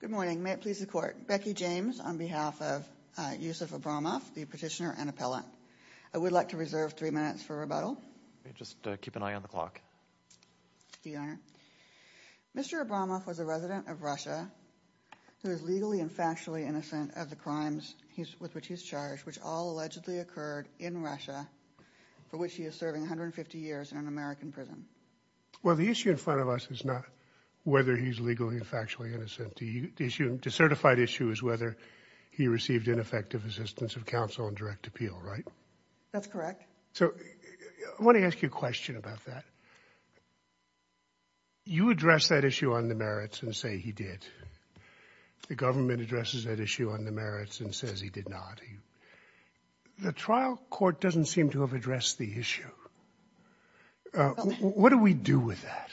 Good morning. May it please the Court. Becky James on behalf of Yusuf Abramov, the petitioner and appellate. I would like to reserve three minutes for rebuttal. Just keep an eye on the clock. Mr. Abramov was a resident of Russia who is legally and factually innocent of the crimes with which he's charged, which all allegedly occurred in Russia, for which he is serving 150 years in an American prison. Well, the issue in front of us is not whether he's legally and factually innocent. The issue, the certified issue, is whether he received ineffective assistance of counsel and direct appeal, right? That's correct. So, I want to ask you a question about that. You address that issue on the merits and say he did. The government addresses that issue on the merits and says he did not. The trial court doesn't seem to have addressed the issue. What do we do with that?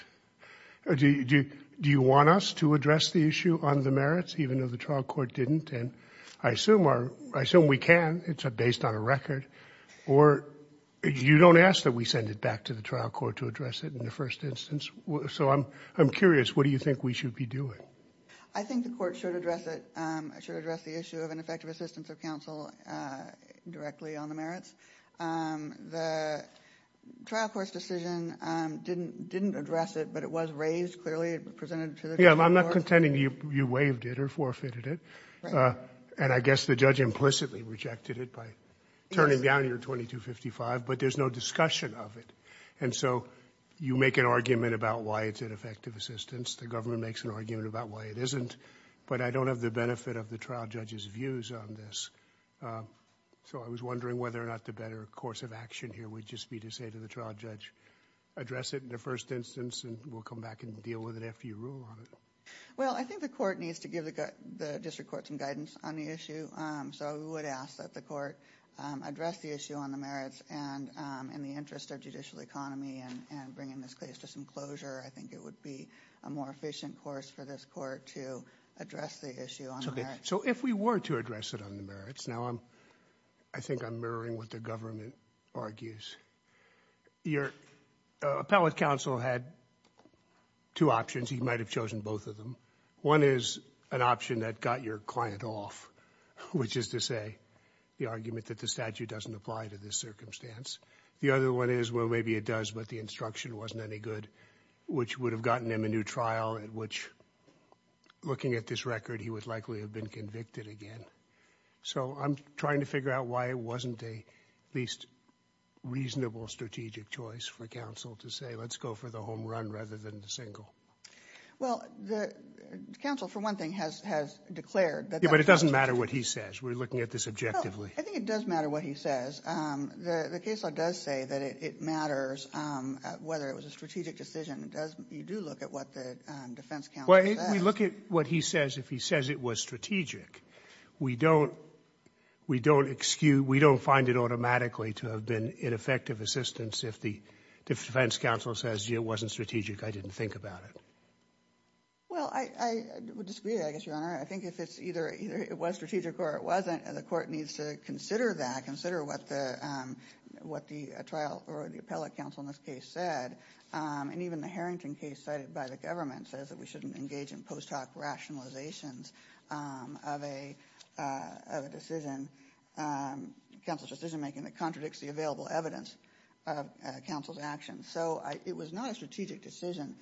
Do you want us to address the issue on the merits, even though the trial court didn't? And I assume we can. It's based on a record. Or you don't ask that we send it back to the trial court to address it in the first instance. So, I'm curious. What do you think we should be doing? I think the court should address it. It should address the issue of ineffective assistance of counsel directly on the merits. The trial court's decision didn't address it, but it was raised clearly. It was presented to the trial court. Yeah, I'm not contending you waived it or forfeited it. Right. And I guess the judge implicitly rejected it by turning down your 2255, but there's no discussion of it. And so, you make an argument about why it's ineffective assistance. The government makes an argument about why it isn't. But I don't have the benefit of the trial judge's views on this. So, I was wondering whether or not the better course of action here would just be to say to the trial judge, address it in the first instance and we'll come back and deal with it after you rule on it. Well, I think the court needs to give the district court some guidance on the issue. So, we would ask that the court address the issue on the merits and in the interest of judicial economy and bringing this case to some closure, I think it would be a more efficient course for this court to address the issue on the merits. So, if we were to address it on the merits, now I'm, I think I'm mirroring what the government argues. Your appellate counsel had two options. He might have chosen both of them. One is an option that got your client off, which is to say the argument that the statute doesn't apply to this circumstance. The other one is, well, maybe it does, but the instruction wasn't any good, which would have gotten him a new trial at which, looking at this record, he would likely have been convicted again. So, I'm trying to figure out why it wasn't a least reasonable strategic choice for counsel to say, let's go for the home run rather than the single. Well, the counsel, for one thing, has, has declared that that was strategic. Yeah, but it doesn't matter what he says. We're looking at this objectively. Well, I think it does matter what he says. The case law does say that it, it matters whether it was a strategic decision. It does, you do look at what the defense counsel Well, if we look at what he says, if he says it was strategic, we don't, we don't excuse, we don't find it automatically to have been ineffective assistance if the defense counsel says it wasn't strategic, I didn't think about it. Well, I, I would disagree, I guess, Your Honor. I think if it's either, either it was strategic or it wasn't, the court needs to consider that, consider what the, what the trial or the appellate counsel in this case said. And even the Harrington case cited by the government says that we shouldn't engage in post hoc rationalizations of a, of a decision, counsel's It was not a strategic decision.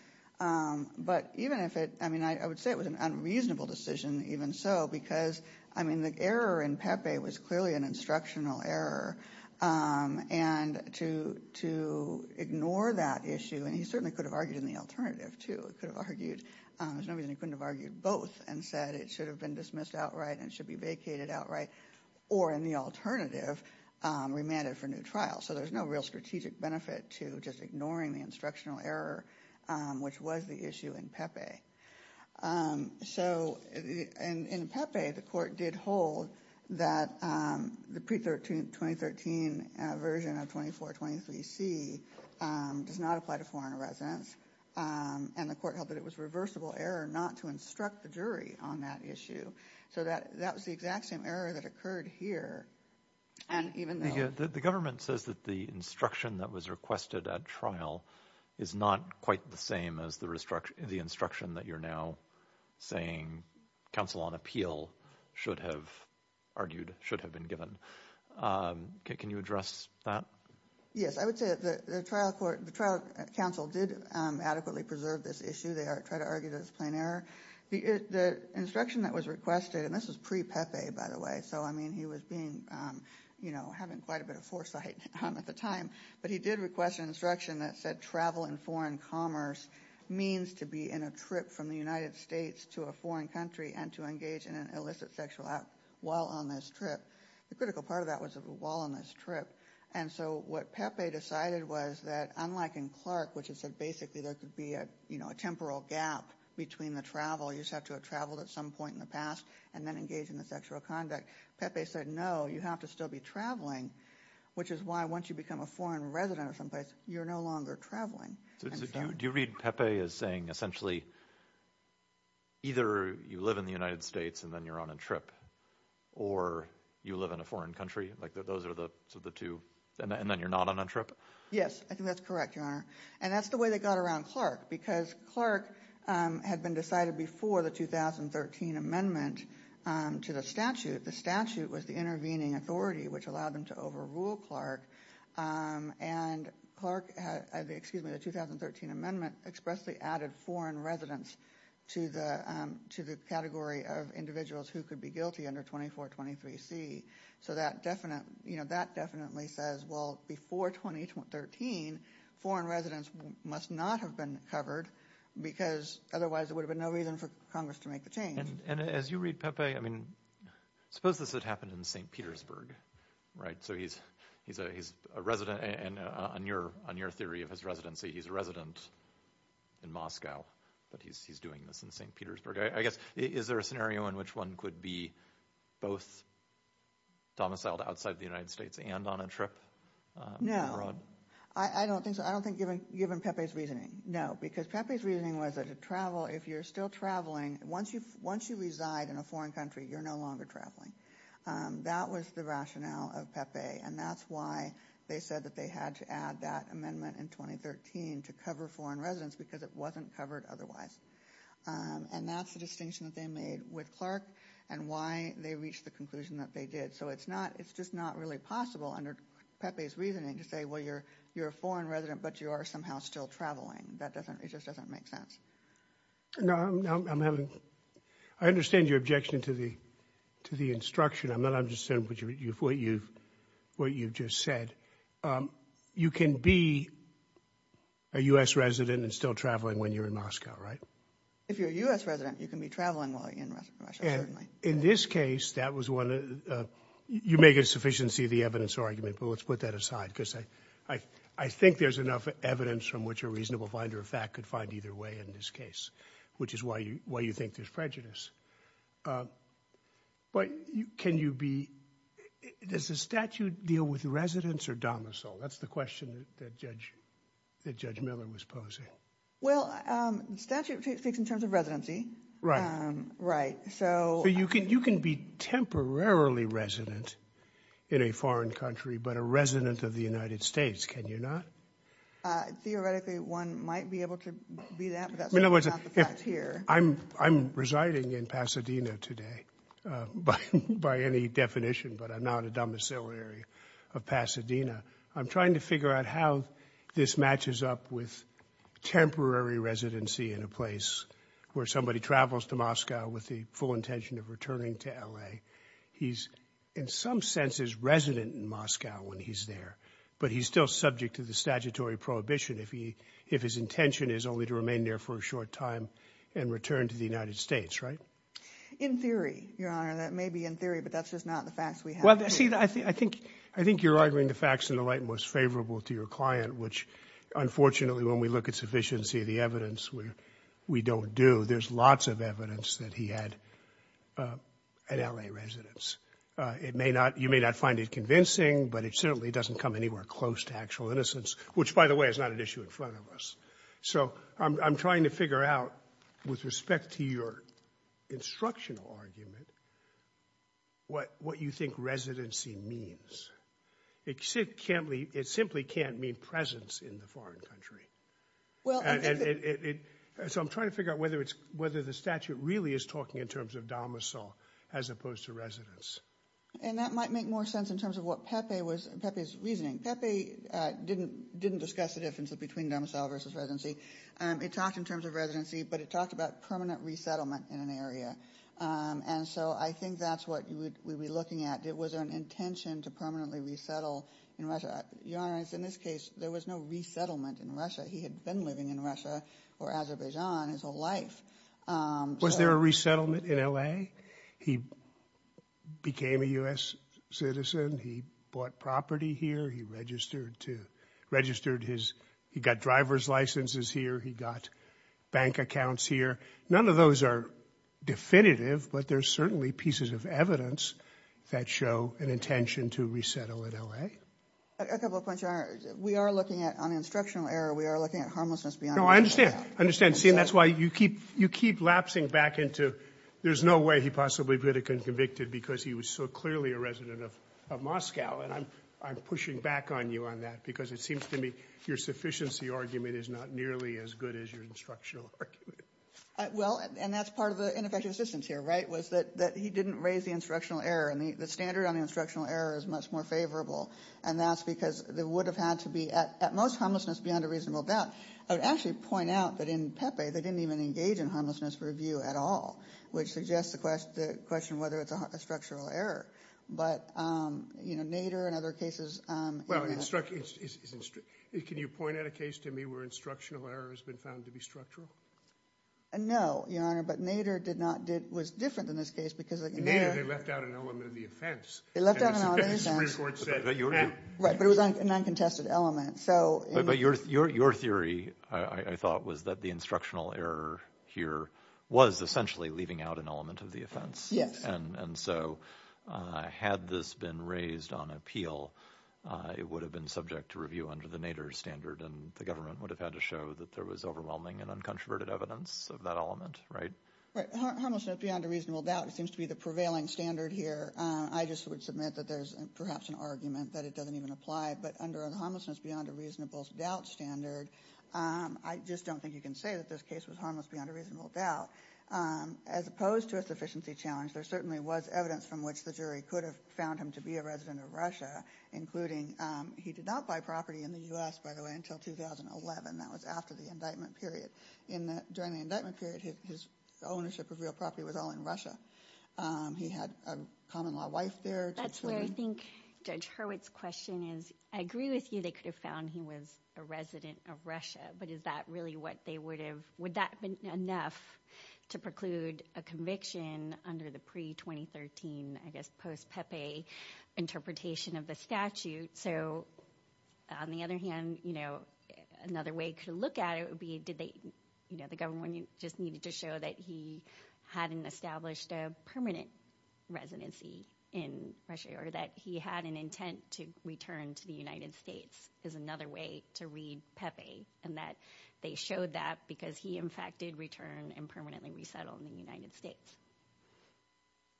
But even if it, I mean, I would say it was an unreasonable decision, even so, because, I mean, the error in Pepe was clearly an instructional error. And to, to ignore that issue, and he certainly could have argued in the alternative too, could have argued, there's no reason he couldn't have argued both and said it should have been dismissed outright and should be vacated outright, or in the alternative, remanded for new trial. So there's no real strategic benefit to just ignoring the instructional error, which was the issue in Pepe. So, in, in Pepe, the court did hold that the pre-13, 2013 version of 2423C does not apply to foreign residents. And the court held that it was reversible error not to instruct the jury on that issue. So that, that was the exact same error that occurred here. And even the, the, the government says that the instruction that was requested at trial is not quite the same as the instruction, the instruction that you're now saying counsel on appeal should have argued, should have been given. Can you address that? Yes, I would say that the trial court, the trial counsel did adequately preserve this issue. They are trying to argue that it's plain error. The, the instruction that was requested, and this was pre-Pepe, by the way. So, I mean, he was being, you know, having quite a bit of foresight at the time. But he did request an instruction that said travel in foreign commerce means to be in a trip from the United States to a foreign country and to engage in an illicit sexual act while on this trip. The critical part of that was while on this trip. And so what Pepe decided was that, unlike in Clark, which is that basically there could be a, you know, a temporal gap between the travel. You just have to have traveled at some point in the past and then engaged in the sexual conduct. Pepe said, no, you have to still be traveling, which is why once you become a foreign resident of some place, you're no longer traveling. Do you read Pepe as saying essentially either you live in the United States and then you're on a trip or you live in a foreign country? Like those are the two, and then you're not on a trip? Yes, I think that's correct, Your Honor. And that's the way they got around Clark, because Clark had been decided before the 2013 amendment to the statute. The statute was the intervening authority which allowed them to overrule Clark. And Clark, excuse me, the 2013 amendment expressly added foreign residents to the category of individuals who could be guilty under 2423C. So that definitely says, well, before 2013, foreign residents must not have been covered, because otherwise there would have been no reason for Congress to make the change. And as you read Pepe, I mean, suppose this had happened in St. Petersburg, right? So he's a resident, and on your theory of his residency, he's a resident in Moscow, but he's doing this in St. Petersburg. I guess, is there a scenario in which one could be both domiciled outside the United States and on a trip? No. I don't think so, given Pepe's reasoning. No, because Pepe's reasoning was that to travel, if you're still traveling, once you reside in a foreign country, you're no longer traveling. That was the rationale of Pepe, and that's why they said that they had to add that amendment in 2013 to cover foreign residents, because it wasn't covered otherwise. And that's the distinction that they made with Clark, and why they reached the conclusion that they did. So it's just not really possible under Pepe's reasoning to say, well, you're a foreign resident, but you are somehow still traveling. That doesn't, it just doesn't make sense. No, I'm having, I understand your objection to the instruction. I'm not understanding what you've just said. You can be a U.S. resident and still traveling when you're in Moscow, right? If you're a U.S. resident, you can be traveling while you're in Russia, certainly. And in this case, that was one of, you make a sufficiency of the evidence argument, but let's put that aside, because I think there's enough evidence from which a reasonable finder of fact could find either way in this case, which is why you think there's prejudice. But can you be, does the statute deal with residents or domicile? That's the question that Judge Miller was posing. Well, the statute speaks in terms of residency, right? So you can be temporarily resident in a foreign country, but a resident of the United States, can you not? Theoretically, one might be able to be that, but that's not the fact here. I'm residing in Pasadena today, by any definition, but I'm not a domiciliary of Pasadena. I'm trying to figure out how this matches up with temporary residency in a place where somebody travels to Moscow with the full intention of returning to L.A. He's, in some senses, resident in Moscow when he's there, but he's still subject to the statutory prohibition if his intention is only to remain there for a short time and return to the United States, right? In theory, Your Honor, that may be in theory, but that's just not the facts we have. I think you're arguing the facts in the light most favorable to your client, which, unfortunately, when we look at sufficiency of the evidence, we don't do. There's lots of evidence that he had an L.A. residence. It may not, you may not find it convincing, but it certainly doesn't come anywhere close to actual innocence, which, by the way, is not an issue in front of us. So I'm trying to figure out, with respect to your instructional argument, what you think residency means. It simply can't mean presence in the foreign country. So I'm trying to figure out whether the statute really is talking in terms of domicile as opposed to residence. And that might make more sense in terms of what Pepe's reasoning. Pepe didn't discuss the difference between domicile versus residency. It talked in terms of residency, but it talked about permanent resettlement in an area. And so I think that's what we would be looking at. Was there an intention to permanently resettle in Russia? Your Honor, in this case, there was no resettlement in Russia. He had been living in Russia or Azerbaijan his whole life. Was there a resettlement in L.A.? He became a U.S. citizen. He bought property here. He registered his, he got driver's licenses here. He got bank accounts here. None of those are definitive, but there's certainly pieces of evidence that show an intention to resettle in L.A. A couple of points, Your Honor. We are looking at, on instructional error, we are looking at harmlessness beyond... No, I understand. I understand. See, and that's why you keep, you keep lapsing back into, there's no way he possibly could have been convicted because he was so clearly a resident of Moscow. And I'm pushing back on you on that because it seems to me your sufficiency argument is not nearly as good as your instructional argument. Well, and that's part of the ineffective assistance here, right, was that he didn't raise the instructional error. And the standard on the instructional error is much more favorable. And that's because there would have had to be, at most, harmlessness beyond a reasonable doubt. I would actually point out that in Pepe, they didn't even engage in harmlessness review at all, which suggests the question whether it's a structural error. But, you know, Nader and other cases... Well, can you point out a case to me where instructional error has been found to be structural? No, Your Honor, but Nader did not, was different in this case because... In Nader, they left out an element of the offense. They left out an element of the offense. Right, but it was an uncontested element. But your theory, I thought, was that the instructional error here was essentially leaving out an element of the offense. Yes. And so had this been raised on appeal, it would have been subject to review under the Nader standard, and the government would have had to show that there was overwhelming and uncontroverted evidence of that element, right? Right. Harmlessness beyond a reasonable doubt seems to be the prevailing standard here. I just would submit that there's perhaps an argument that it doesn't even apply. But under the harmlessness beyond a reasonable doubt standard, I just don't think you can say that this case was harmless beyond a reasonable doubt. As opposed to a sufficiency challenge, there certainly was evidence from which the jury could have found him to be a resident of Russia, including he did not buy property in the U.S., by the way, until 2011. That was after the indictment period. During the indictment period, his ownership of real property was all in Russia. He had a common-law wife there. That's where I think Judge Hurwitz's question is, I agree with you they could have found he was a resident of Russia, but is that really what they would have... Would that have been enough to preclude a conviction under the pre-2013, I guess, post-Pepe interpretation of the statute? So, on the other hand, another way to look at it would be, did they... The government just needed to show that he hadn't established a permanent residency in Russia, or that he had an intent to return to the United States, is another way to read Pepe, and that they showed that because he, in fact, did return and permanently resettle in the United States.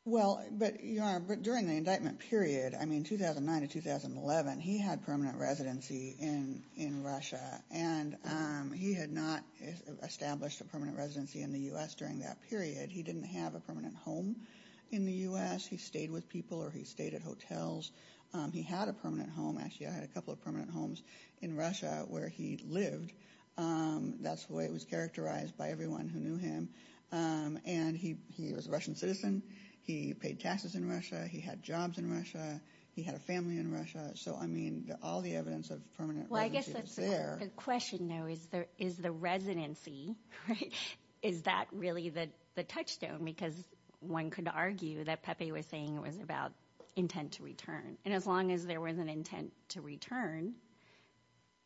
Well, but Your Honor, during the indictment period, I mean 2009 to 2011, he had permanent residency in Russia, and he had not established a permanent residency in the U.S. during that period. He didn't have a permanent home in the U.S. He stayed with people, or he stayed at hotels. He had a permanent home. Actually, I had a couple of permanent homes in Russia where he lived. That's the way it was characterized by everyone who knew him, and he was a Russian citizen. He paid taxes in Russia. He had jobs in Russia. He had a family in Russia. So, I mean, all the evidence of permanent residency was there. Well, I guess the question now is, is the residency, right, is that really the touchstone? Because one could argue that Pepe was saying it was about intent to return, and as long as there was an intent to return,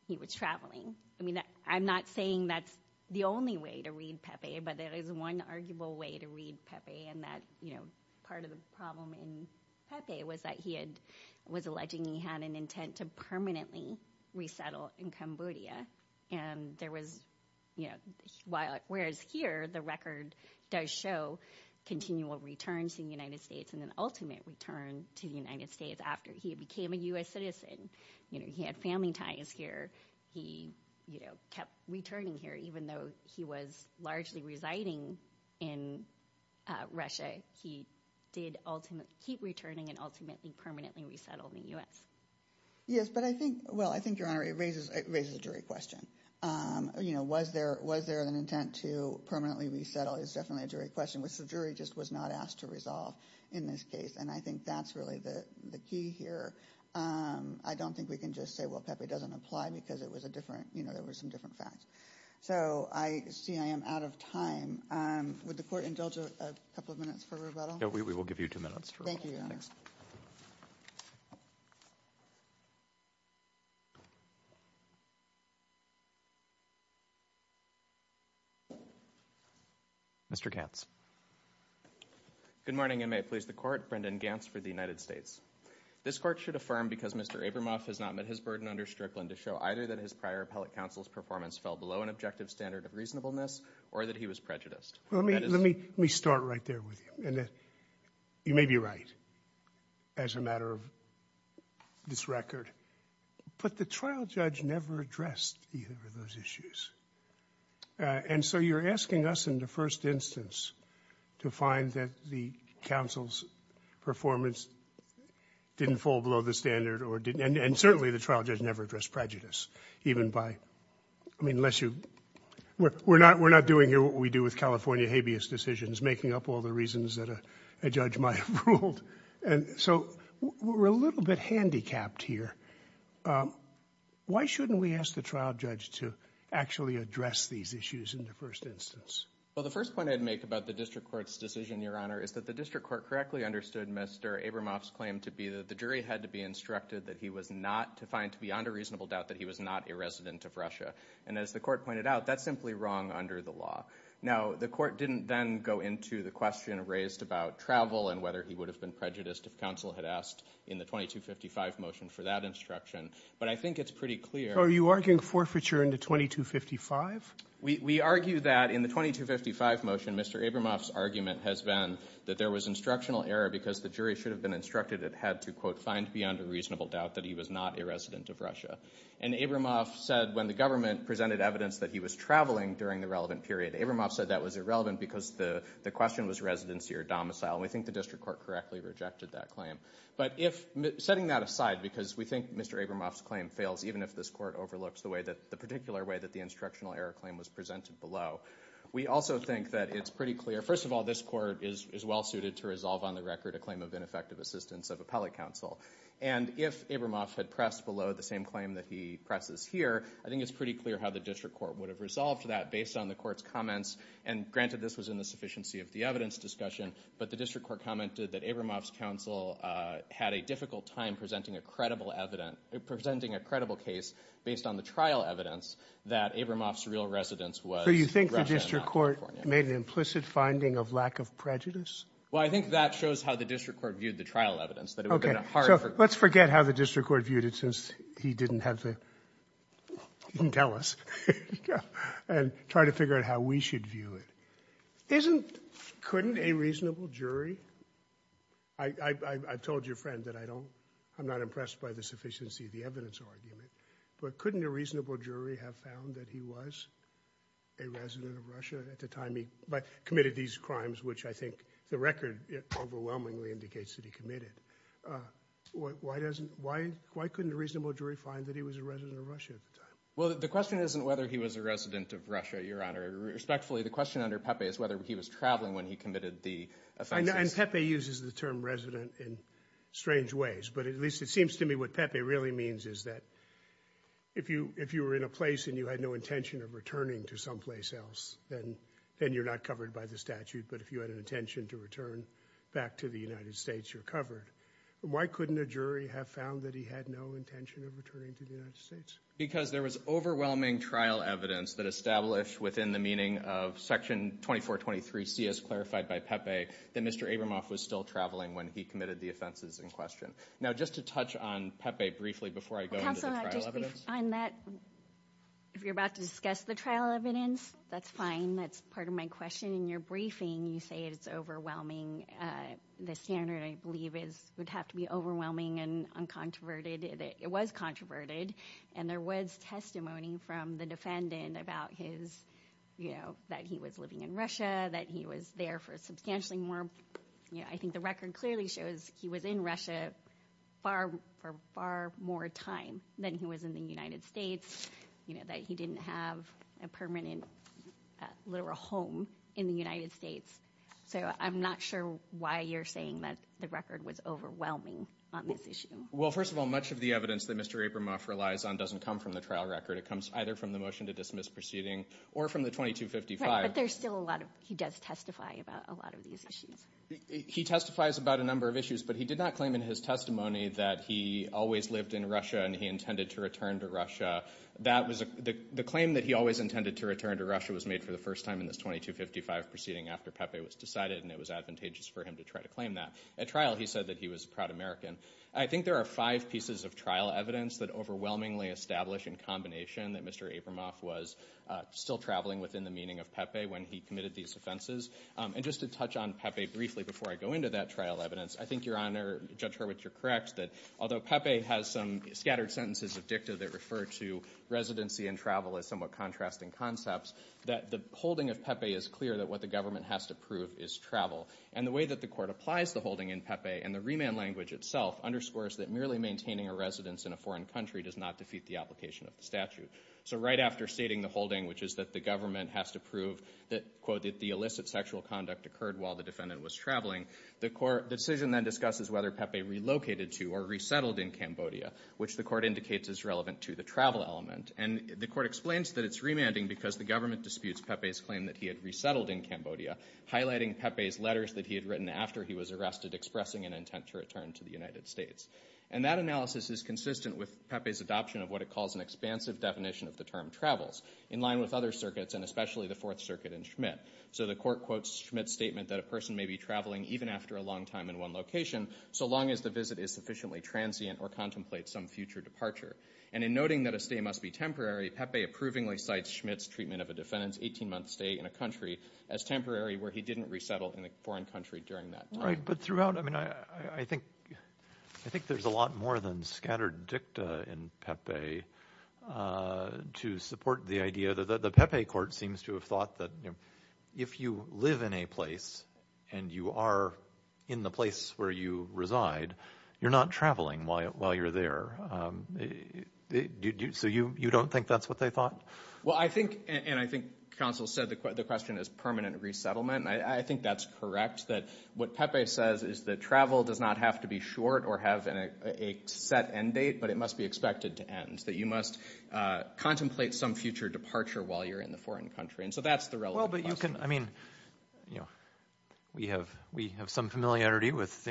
he was traveling. I mean, I'm not saying that's the only way to read Pepe, but there is one arguable way to read Pepe, and that, you know, part of the problem in Pepe was that he had, was alleging he had an intent to permanently resettle in Cambodia, and there was, you know, whereas here, the record does show continual returns to the United States and an ultimate return to the United States after he became a U.S. citizen. You know, he had family ties here. He, you know, kept returning here even though he was largely residing in Russia. He did ultimately keep returning and ultimately permanently resettled in the U.S. Yes, but I think, well, I think, Your Honor, it raises, it raises a jury question. You know, was there, was there an intent to permanently resettle is definitely a jury question, which the jury just was not asked to resolve in this case, and I think that's really the key here. I don't think we can just say, well, Pepe doesn't apply because it was a different, you know, there were some different facts. So, I see I am out of time. Would the Court indulge a couple of minutes for rebuttal? No, we will give you two minutes. Thank you, Your Honor. Mr. Gantz. Good morning, and may it please the Court. Brendan Gantz for the United States. This Court should affirm because Mr. Abramoff has not met his burden under Strickland to show either that his prior appellate counsel's performance fell below an objective standard of reasonableness or that he was prejudiced. Let me, let me, let me start right there with you, and that you may be right as a matter of this record, but the trial judge never addressed either of those issues, and so you're asking us in the first instance to find that the counsel's performance didn't fall below the standard or didn't, and certainly the trial judge never addressed prejudice, even by, I mean, unless you, we're not, we're not doing here what we do with habeas decisions, making up all the reasons that a judge might have ruled, and so we're a little bit handicapped here. Why shouldn't we ask the trial judge to actually address these issues in the first instance? Well, the first point I'd make about the District Court's decision, Your Honor, is that the District Court correctly understood Mr. Abramoff's claim to be that the jury had to be instructed that he was not to find beyond a reasonable doubt that he was not a resident of Russia, and as the court pointed out, that's simply wrong under the law. Now, the court didn't then go into the question raised about travel and whether he would have been prejudiced if counsel had asked in the 2255 motion for that instruction, but I think it's pretty clear. So are you arguing forfeiture in the 2255? We, we argue that in the 2255 motion, Mr. Abramoff's argument has been that there was instructional error because the jury should have been instructed it had to, quote, reasonable doubt that he was not a resident of Russia, and Abramoff said when the government presented evidence that he was traveling during the relevant period, Abramoff said that was irrelevant because the, the question was residency or domicile. We think the District Court correctly rejected that claim, but if, setting that aside because we think Mr. Abramoff's claim fails, even if this court overlooks the way that, the particular way that the instructional error claim was presented below, we also think that it's pretty clear, first of all, this court is, is well suited to resolve on record a claim of ineffective assistance of appellate counsel, and if Abramoff had pressed below the same claim that he presses here, I think it's pretty clear how the District Court would have resolved that based on the court's comments, and granted this was in the sufficiency of the evidence discussion, but the District Court commented that Abramoff's counsel had a difficult time presenting a credible evidence, presenting a credible case based on the trial evidence that Abramoff's real residence was Russia and California. So you think the District Court made an implicit finding of lack of prejudice? Well, I think that shows how the District Court viewed the trial evidence. Okay, so let's forget how the District Court viewed it since he didn't have to tell us, and try to figure out how we should view it. Isn't, couldn't a reasonable jury, I, I, I told your friend that I don't, I'm not impressed by the sufficiency of the evidence argument, but couldn't a reasonable jury have found that he was a resident of Russia at the time he, but committed these crimes, which I think the record overwhelmingly indicates that he committed? Why, why doesn't, why, why couldn't a reasonable jury find that he was a resident of Russia at the time? Well, the question isn't whether he was a resident of Russia, Your Honor, respectfully the question under Pepe is whether he was traveling when he committed the offenses. And Pepe uses the term resident in strange ways, but at least it seems to me what Pepe really means is that if you, if you were in a place and you had no intention of returning to someplace then, then you're not covered by the statute, but if you had an intention to return back to the United States, you're covered. Why couldn't a jury have found that he had no intention of returning to the United States? Because there was overwhelming trial evidence that established within the meaning of Section 2423C as clarified by Pepe, that Mr. Abramoff was still traveling when he committed the offenses in question. Now just to touch on Pepe briefly before I go into that, if you're about to discuss the trial evidence, that's fine. That's part of my question. In your briefing, you say it's overwhelming. The standard I believe is, would have to be overwhelming and uncontroverted. It was controverted and there was testimony from the defendant about his, you know, that he was living in Russia, that he was there for substantially more, you know, I think the record clearly shows he was in Russia for far more time than he was in the United States, you know, that he didn't have a permanent literal home in the United States. So I'm not sure why you're saying that the record was overwhelming on this issue. Well, first of all, much of the evidence that Mr. Abramoff relies on doesn't come from the trial record. It comes either from the motion to dismiss proceeding or from the 2255. But there's still a lot of, he does testify about a lot of these issues. He testifies about a number of issues, but he did not claim in his testimony that he always lived in Russia and he intended to return to Russia. That was the claim that he always intended to return to Russia was made for the first time in this 2255 proceeding after Pepe was decided and it was advantageous for him to try to claim that. At trial, he said that he was a proud American. I think there are five pieces of trial evidence that overwhelmingly establish in combination that Mr. Abramoff was still traveling within the meaning of Pepe when he committed these offenses. And just to touch on Pepe briefly before I go into that trial evidence, I think your Honor, Judge Hurwitz, you're correct that although Pepe has some scattered sentences of dicta that refer to residency and travel as somewhat contrasting concepts, that the holding of Pepe is clear that what the government has to prove is travel. And the way that the court applies the holding in Pepe and the remand language itself underscores that merely maintaining a residence in a foreign country does not defeat the application of the statute. So right after stating the holding, which is that the government has to prove that, quote, that the illicit sexual conduct occurred while the defendant was traveling, the decision then discusses whether Pepe relocated to or resettled in Cambodia, which the court indicates is relevant to the travel element. And the court explains that it's remanding because the government disputes Pepe's claim that he had resettled in Cambodia, highlighting Pepe's letters that he had written after he was arrested expressing an intent to return to the United States. And that analysis is consistent with Pepe's adoption of what it an expansive definition of the term travels, in line with other circuits and especially the Fourth Circuit and Schmitt. So the court quotes Schmitt's statement that a person may be traveling even after a long time in one location so long as the visit is sufficiently transient or contemplates some future departure. And in noting that a stay must be temporary, Pepe approvingly cites Schmitt's treatment of a defendant's 18-month stay in a country as temporary where he didn't resettle in a foreign country during that time. Right, but throughout, I mean, I think there's a lot more than scattered dicta in Pepe to support the idea that the Pepe court seems to have thought that if you live in a place and you are in the place where you reside, you're not traveling while you're there. So you don't think that's what they thought? Well, I think, and I think counsel said the question is permanent resettlement. And I think that's correct, that what Pepe says is that travel does not have to be short or have a set end date, but it must be expected to end, that you must contemplate some future departure while you're in the foreign country. And so that's the relevant question. Well, but you can, I mean, you know, we have some familiarity with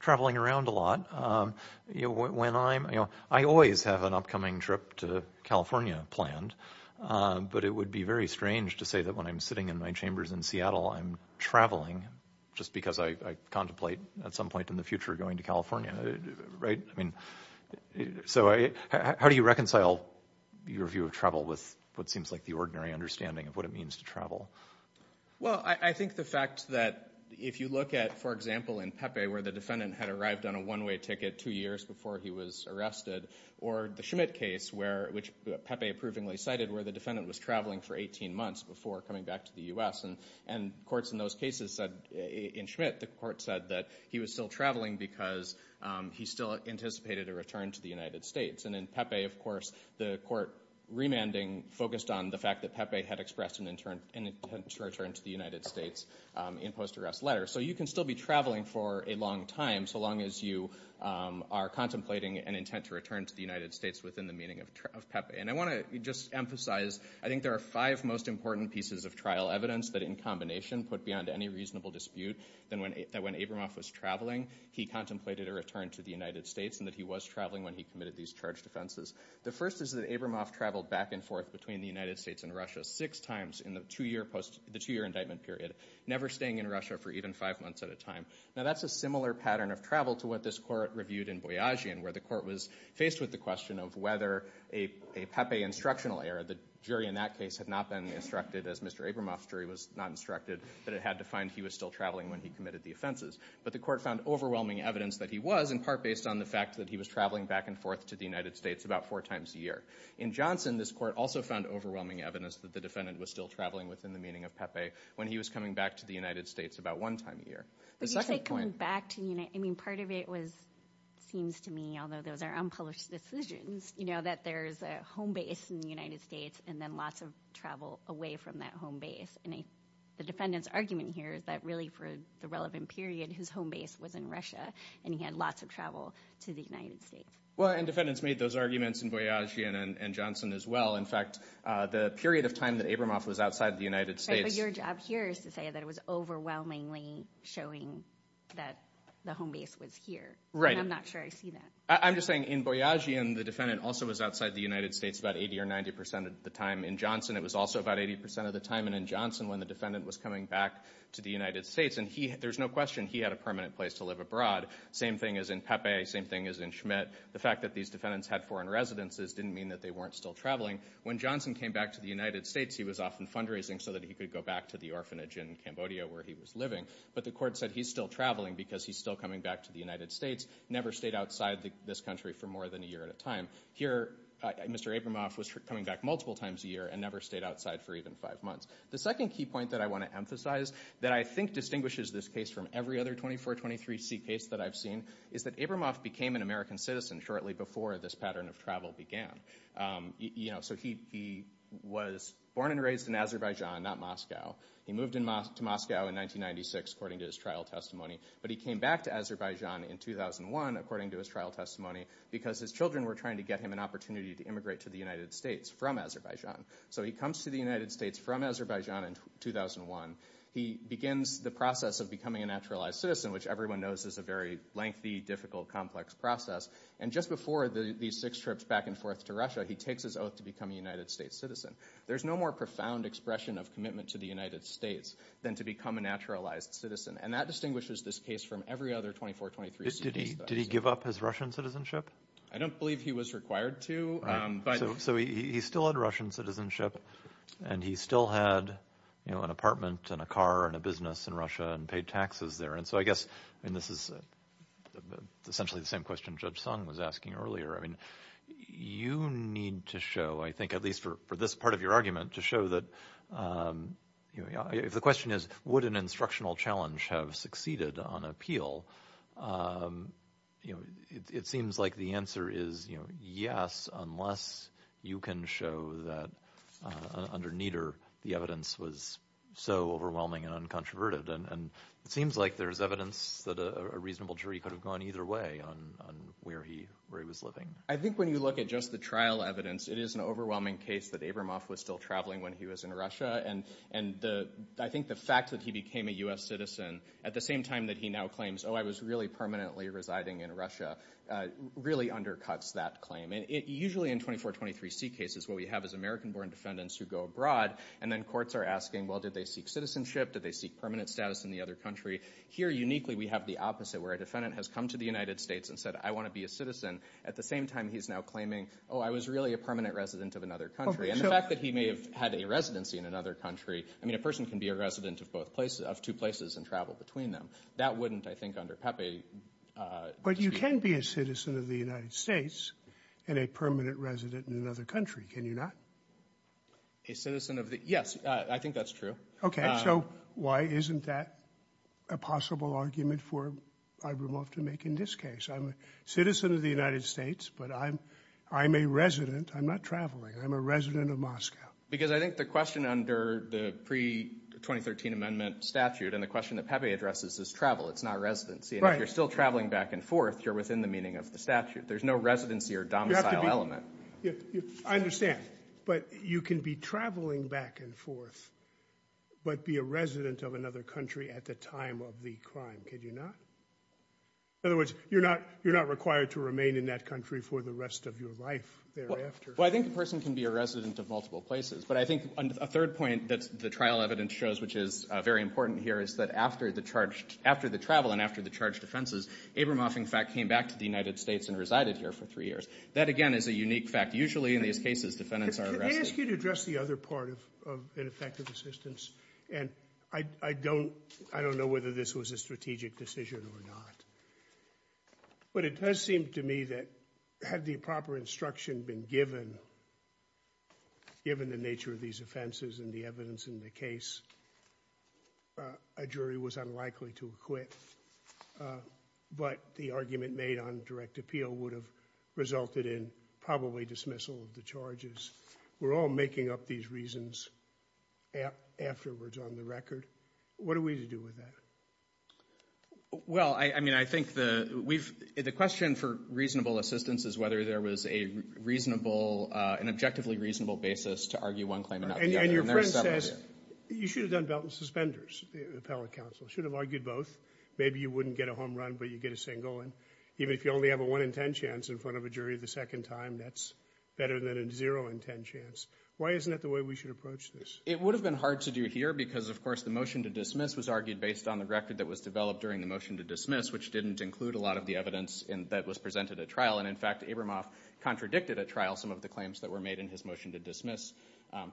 traveling around a lot. You know, when I'm, you know, I always have an upcoming trip to California planned, but it would be very strange to say that when I'm sitting in my chambers in Seattle, I'm traveling just because I contemplate at some point in the future going to California, right? I mean, so how do you reconcile your view of travel with what seems like the ordinary understanding of what it means to travel? Well, I think the fact that if you look at, for example, in Pepe, where the defendant had arrived on a one-way ticket two years before he was arrested, or the Schmidt case where, which Pepe approvingly cited, where the defendant was traveling for 18 and courts in those cases said, in Schmidt, the court said that he was still traveling because he still anticipated a return to the United States. And in Pepe, of course, the court remanding focused on the fact that Pepe had expressed an intent to return to the United States in post-arrest letter. So you can still be traveling for a long time, so long as you are contemplating an intent to return to the United States within the meaning of Pepe. And I in combination put beyond any reasonable dispute that when Abramoff was traveling, he contemplated a return to the United States and that he was traveling when he committed these charge defenses. The first is that Abramoff traveled back and forth between the United States and Russia six times in the two-year post, the two-year indictment period, never staying in Russia for even five months at a time. Now that's a similar pattern of travel to what this court reviewed in Boyajian, where the court was faced with the question of whether a Pepe instructional error. The jury in that case had not been instructed, as Mr. Abramoff's jury was not instructed, that it had to find he was still traveling when he committed the offenses. But the court found overwhelming evidence that he was, in part based on the fact that he was traveling back and forth to the United States about four times a year. In Johnson, this court also found overwhelming evidence that the defendant was still traveling within the meaning of Pepe when he was coming back to the United States about one time a year. But the second point- But you say coming back to the United- I mean, part of it was- seems to me, those are unpublished decisions, you know, that there's a home base in the United States and then lots of travel away from that home base. And the defendant's argument here is that really for the relevant period, his home base was in Russia and he had lots of travel to the United States. Well, and defendants made those arguments in Boyajian and Johnson as well. In fact, the period of time that Abramoff was outside the United States- But your job here is to say that it was overwhelmingly showing that the home base was here. Right. I'm just saying in Boyajian, the defendant also was outside the United States about 80 or 90 percent of the time. In Johnson, it was also about 80 percent of the time. And in Johnson, when the defendant was coming back to the United States and he- there's no question he had a permanent place to live abroad. Same thing as in Pepe. Same thing as in Schmidt. The fact that these defendants had foreign residences didn't mean that they weren't still traveling. When Johnson came back to the United States, he was often fundraising so that he could go back to the orphanage in Cambodia where he was living. But the court said he's still traveling because he's still coming back to the United States, never stayed outside this country for more than a year at a time. Here, Mr. Abramoff was coming back multiple times a year and never stayed outside for even five months. The second key point that I want to emphasize that I think distinguishes this case from every other 2423C case that I've seen is that Abramoff became an American citizen shortly before this pattern of travel began. So he was born and raised in not Moscow. He moved to Moscow in 1996 according to his trial testimony. But he came back to Azerbaijan in 2001 according to his trial testimony because his children were trying to get him an opportunity to immigrate to the United States from Azerbaijan. So he comes to the United States from Azerbaijan in 2001. He begins the process of becoming a naturalized citizen, which everyone knows is a very lengthy, difficult, complex process. And just before these six trips back and forth to Russia, he takes his oath to become a United States citizen. There's no more profound expression of commitment to the United States than to become a naturalized citizen. And that distinguishes this case from every other 2423C case that I've seen. Did he give up his Russian citizenship? I don't believe he was required to. So he still had Russian citizenship and he still had an apartment and a car and a business in Russia and paid taxes there. And so I guess this is essentially the same question Judge Sung was asking earlier. I mean, you need to show, I think at least for this part of your argument, to show that if the question is, would an instructional challenge have succeeded on appeal? It seems like the answer is yes, unless you can show that under Nieder the evidence was so overwhelming and uncontroverted. And it seems like there's evidence that a reasonable jury could have gone either way on where he was living. I think when you look at just the trial evidence, it is an overwhelming case that Abramoff was still traveling when he was in Russia. And I think the fact that he became a U.S. citizen at the same time that he now claims, oh, I was really permanently residing in Russia, really undercuts that claim. And usually in 2423C cases, what we have is American-born defendants who go abroad and then courts are asking, well, did they seek citizenship? Did they seek permanent status in the other country? Here, uniquely, we have the opposite, where a defendant has come to the United States and said, I want to be a citizen. At the same time, he's now claiming, oh, I was really a permanent resident of another country. And the fact that he may have had a residency in another country, I mean, a person can be a resident of two places and travel between them. That wouldn't, I think, under Pepe. But you can be a citizen of the United States and a permanent resident in another country, can you not? A citizen of the, yes, I think that's true. Okay, so why isn't that a possible argument for Ibramov to make in this case? I'm a citizen of the United States, but I'm a resident. I'm not traveling. I'm a resident of Moscow. Because I think the question under the pre-2013 amendment statute and the question that Pepe addresses is travel. It's not residency. And if you're still traveling back and forth, you're within the meaning of the statute. There's no residency or domicile element. I understand. But you can be traveling back and forth, but be a resident of another country at the time of the crime, can you not? In other words, you're not required to remain in that country for the rest of your life thereafter. Well, I think a person can be a resident of multiple places. But I think a third point that the trial evidence shows, which is very important here, is that after the travel and after the charged offenses, Ibramov, in fact, came back to the United States and resided here for three years. That, again, is a unique fact. Usually, in these cases, defendants are arrested. Can I ask you to address the other part of ineffective assistance? And I don't know whether this was a strategic decision or not. But it does seem to me that had the proper instruction been given, given the nature of these offenses and the evidence in the case, a jury was unlikely to acquit. But the argument made on direct appeal would have resulted in probably dismissal of the charges. We're all making up these reasons afterwards on the record. What are we to do with that? Well, I mean, I think the question for reasonable assistance is whether there was an objectively reasonable basis to argue one claim and not the other. Your friend says you should have done belt and suspenders, the appellate counsel. You should have argued both. Maybe you wouldn't get a home run, but you'd get a single. Even if you only have a one in ten chance in front of a jury the second time, that's better than a zero in ten chance. Why isn't that the way we should approach this? It would have been hard to do here because, of course, the motion to dismiss was argued based on the record that was developed during the motion to dismiss, which didn't include a lot of the evidence that was presented at trial. And, in fact, Ibramov contradicted at trial some of the claims that were made in his motion to dismiss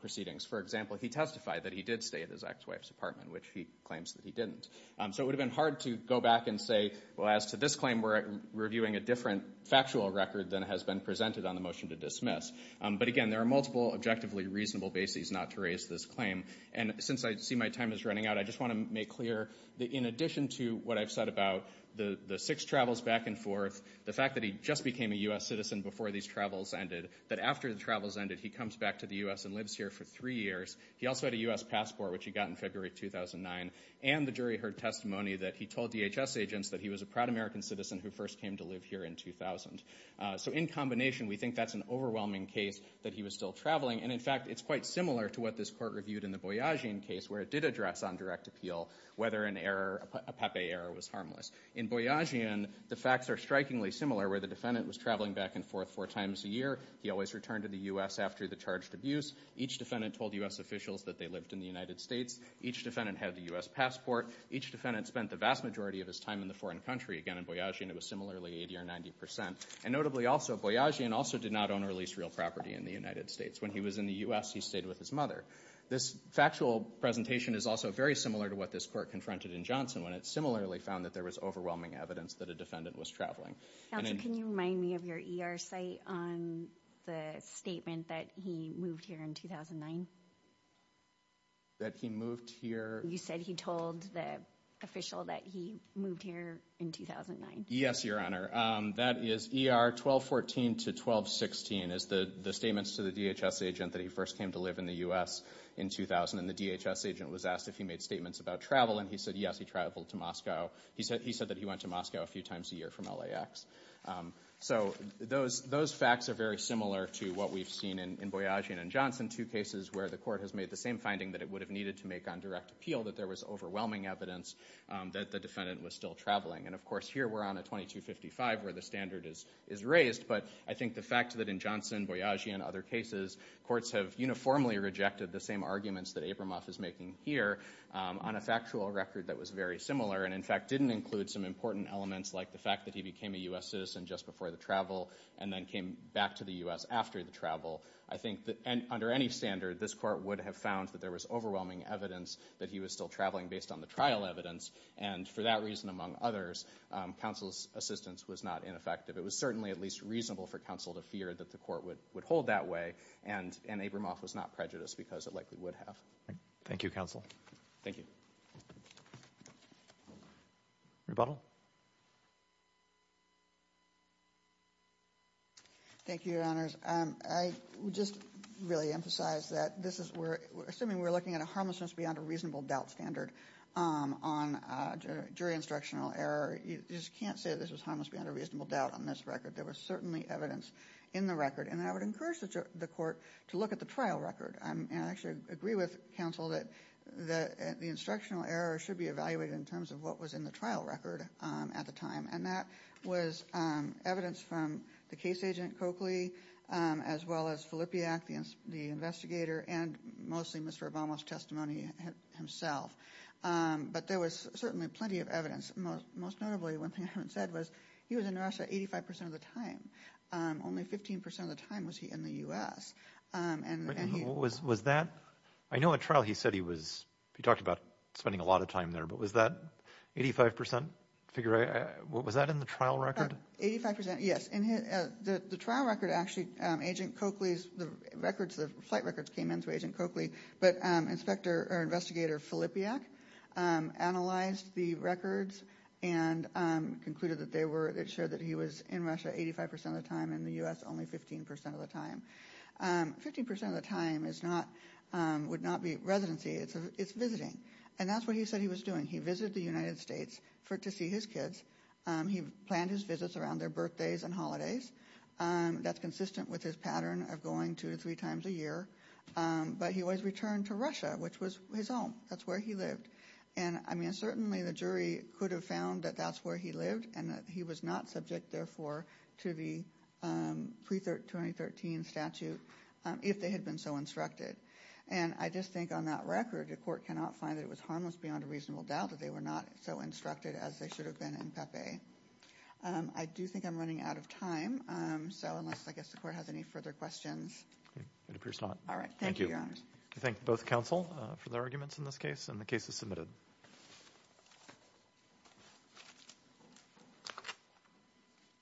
proceedings. For example, he testified that he did stay at his ex-wife's apartment, which he claims that he didn't. So it would have been hard to go back and say, well, as to this claim, we're reviewing a different factual record than has been presented on the motion to dismiss. But, again, there are multiple objectively reasonable bases not to raise this claim. And since I see my time is running out, I just want to make clear that in addition to what I've said about the six travels back and forth, the fact that he just became a U.S. citizen before these travels ended, that after the travels ended, he comes back to the U.S. and lives here for three years. He also had a U.S. passport, which he got in February 2009. And the jury heard testimony that he told DHS agents that he was a proud American citizen who first came to live here in 2000. So in combination, we think that's an overwhelming case that he was still traveling. And, in fact, it's quite similar to what this court reviewed in the Boyajian case, where it did address on direct appeal whether an error, a Pepe error, was harmless. In Boyajian, the facts are strikingly where the defendant was traveling back and forth four times a year. He always returned to the U.S. after the charged abuse. Each defendant told U.S. officials that they lived in the United States. Each defendant had the U.S. passport. Each defendant spent the vast majority of his time in the foreign country. Again, in Boyajian, it was similarly 80 or 90 percent. And notably also, Boyajian also did not own or lease real property in the United States. When he was in the U.S., he stayed with his mother. This factual presentation is also very similar to what this court confronted in Johnson, when it similarly found that there was overwhelming evidence that a defendant was traveling. Counsel, can you remind me of your ER site on the statement that he moved here in 2009? That he moved here? You said he told the official that he moved here in 2009. Yes, Your Honor. That is ER 1214 to 1216, is the statements to the DHS agent that he first came to live in the U.S. in 2000. And the DHS agent was asked if he made statements about travel. And he said, yes, he traveled to Moscow. He said that he went to Moscow a few times a year from LAX. So those facts are very similar to what we've seen in Boyajian and Johnson, two cases where the court has made the same finding that it would have needed to make on direct appeal, that there was overwhelming evidence that the defendant was still traveling. And of course, here we're on a 2255 where the standard is raised. But I think the fact that in Johnson, Boyajian, other cases, courts have uniformly rejected the same arguments that Abramoff is making here on a factual record that was very similar. And in fact, didn't include some important elements like the fact that he became a U.S. citizen just before the travel and then came back to the U.S. after the travel. I think that under any standard, this court would have found that there was overwhelming evidence that he was still traveling based on the trial evidence. And for that reason, among others, counsel's assistance was not ineffective. It was certainly at least reasonable for counsel to fear that the court would hold that way. And Abramoff was not prejudiced because it likely would have. Thank you, counsel. Thank you. Rebuttal? Thank you, Your Honors. I would just really emphasize that this is where, assuming we're looking at a harmlessness beyond a reasonable doubt standard on jury instructional error, you just can't say this was harmless beyond a reasonable doubt on this record. There was certainly evidence in the record. And I would encourage the court to look at the trial record. And I actually agree with counsel that the instructional error should be evaluated in terms of what was in the trial record at the time. And that was evidence from the case agent, Coakley, as well as Filippiak, the investigator, and mostly Mr. Abramoff's testimony himself. But there was certainly plenty of evidence. Most notably, one thing I haven't said was he was in Russia 85 percent of the time. Only 15 percent of the time was he in the U.S. And was that, I know at trial he said he was, he talked about spending a lot of time there, but was that 85 percent? Was that in the trial record? 85 percent, yes. In the trial record, actually, agent Coakley's records, the flight records came in through agent Coakley, but inspector or investigator Filippiak analyzed the records and concluded that they were, it showed that he was in Russia 85 percent of the time, in the U.S. only 15 percent of the time. 15 percent of the time is not, would not be residency. It's visiting. And that's what he said he was doing. He visited the United States to see his kids. He planned his visits around their birthdays and holidays. That's consistent with his pattern of going two to three times a year. But he always returned to Russia, which was his home. That's where he lived. And I mean, certainly the jury could have found that that's where he lived and that he was not subject, therefore, to the pre-2013 statute if they had been so instructed. And I just think on that record the court cannot find that it was harmless beyond a reasonable doubt that they were not so instructed as they should have been in Pepe. I do think I'm running out of time, so unless I guess the court has any further questions. It appears not. All right. Thank you. I thank both counsel for their arguments in this case, and the case is submitted.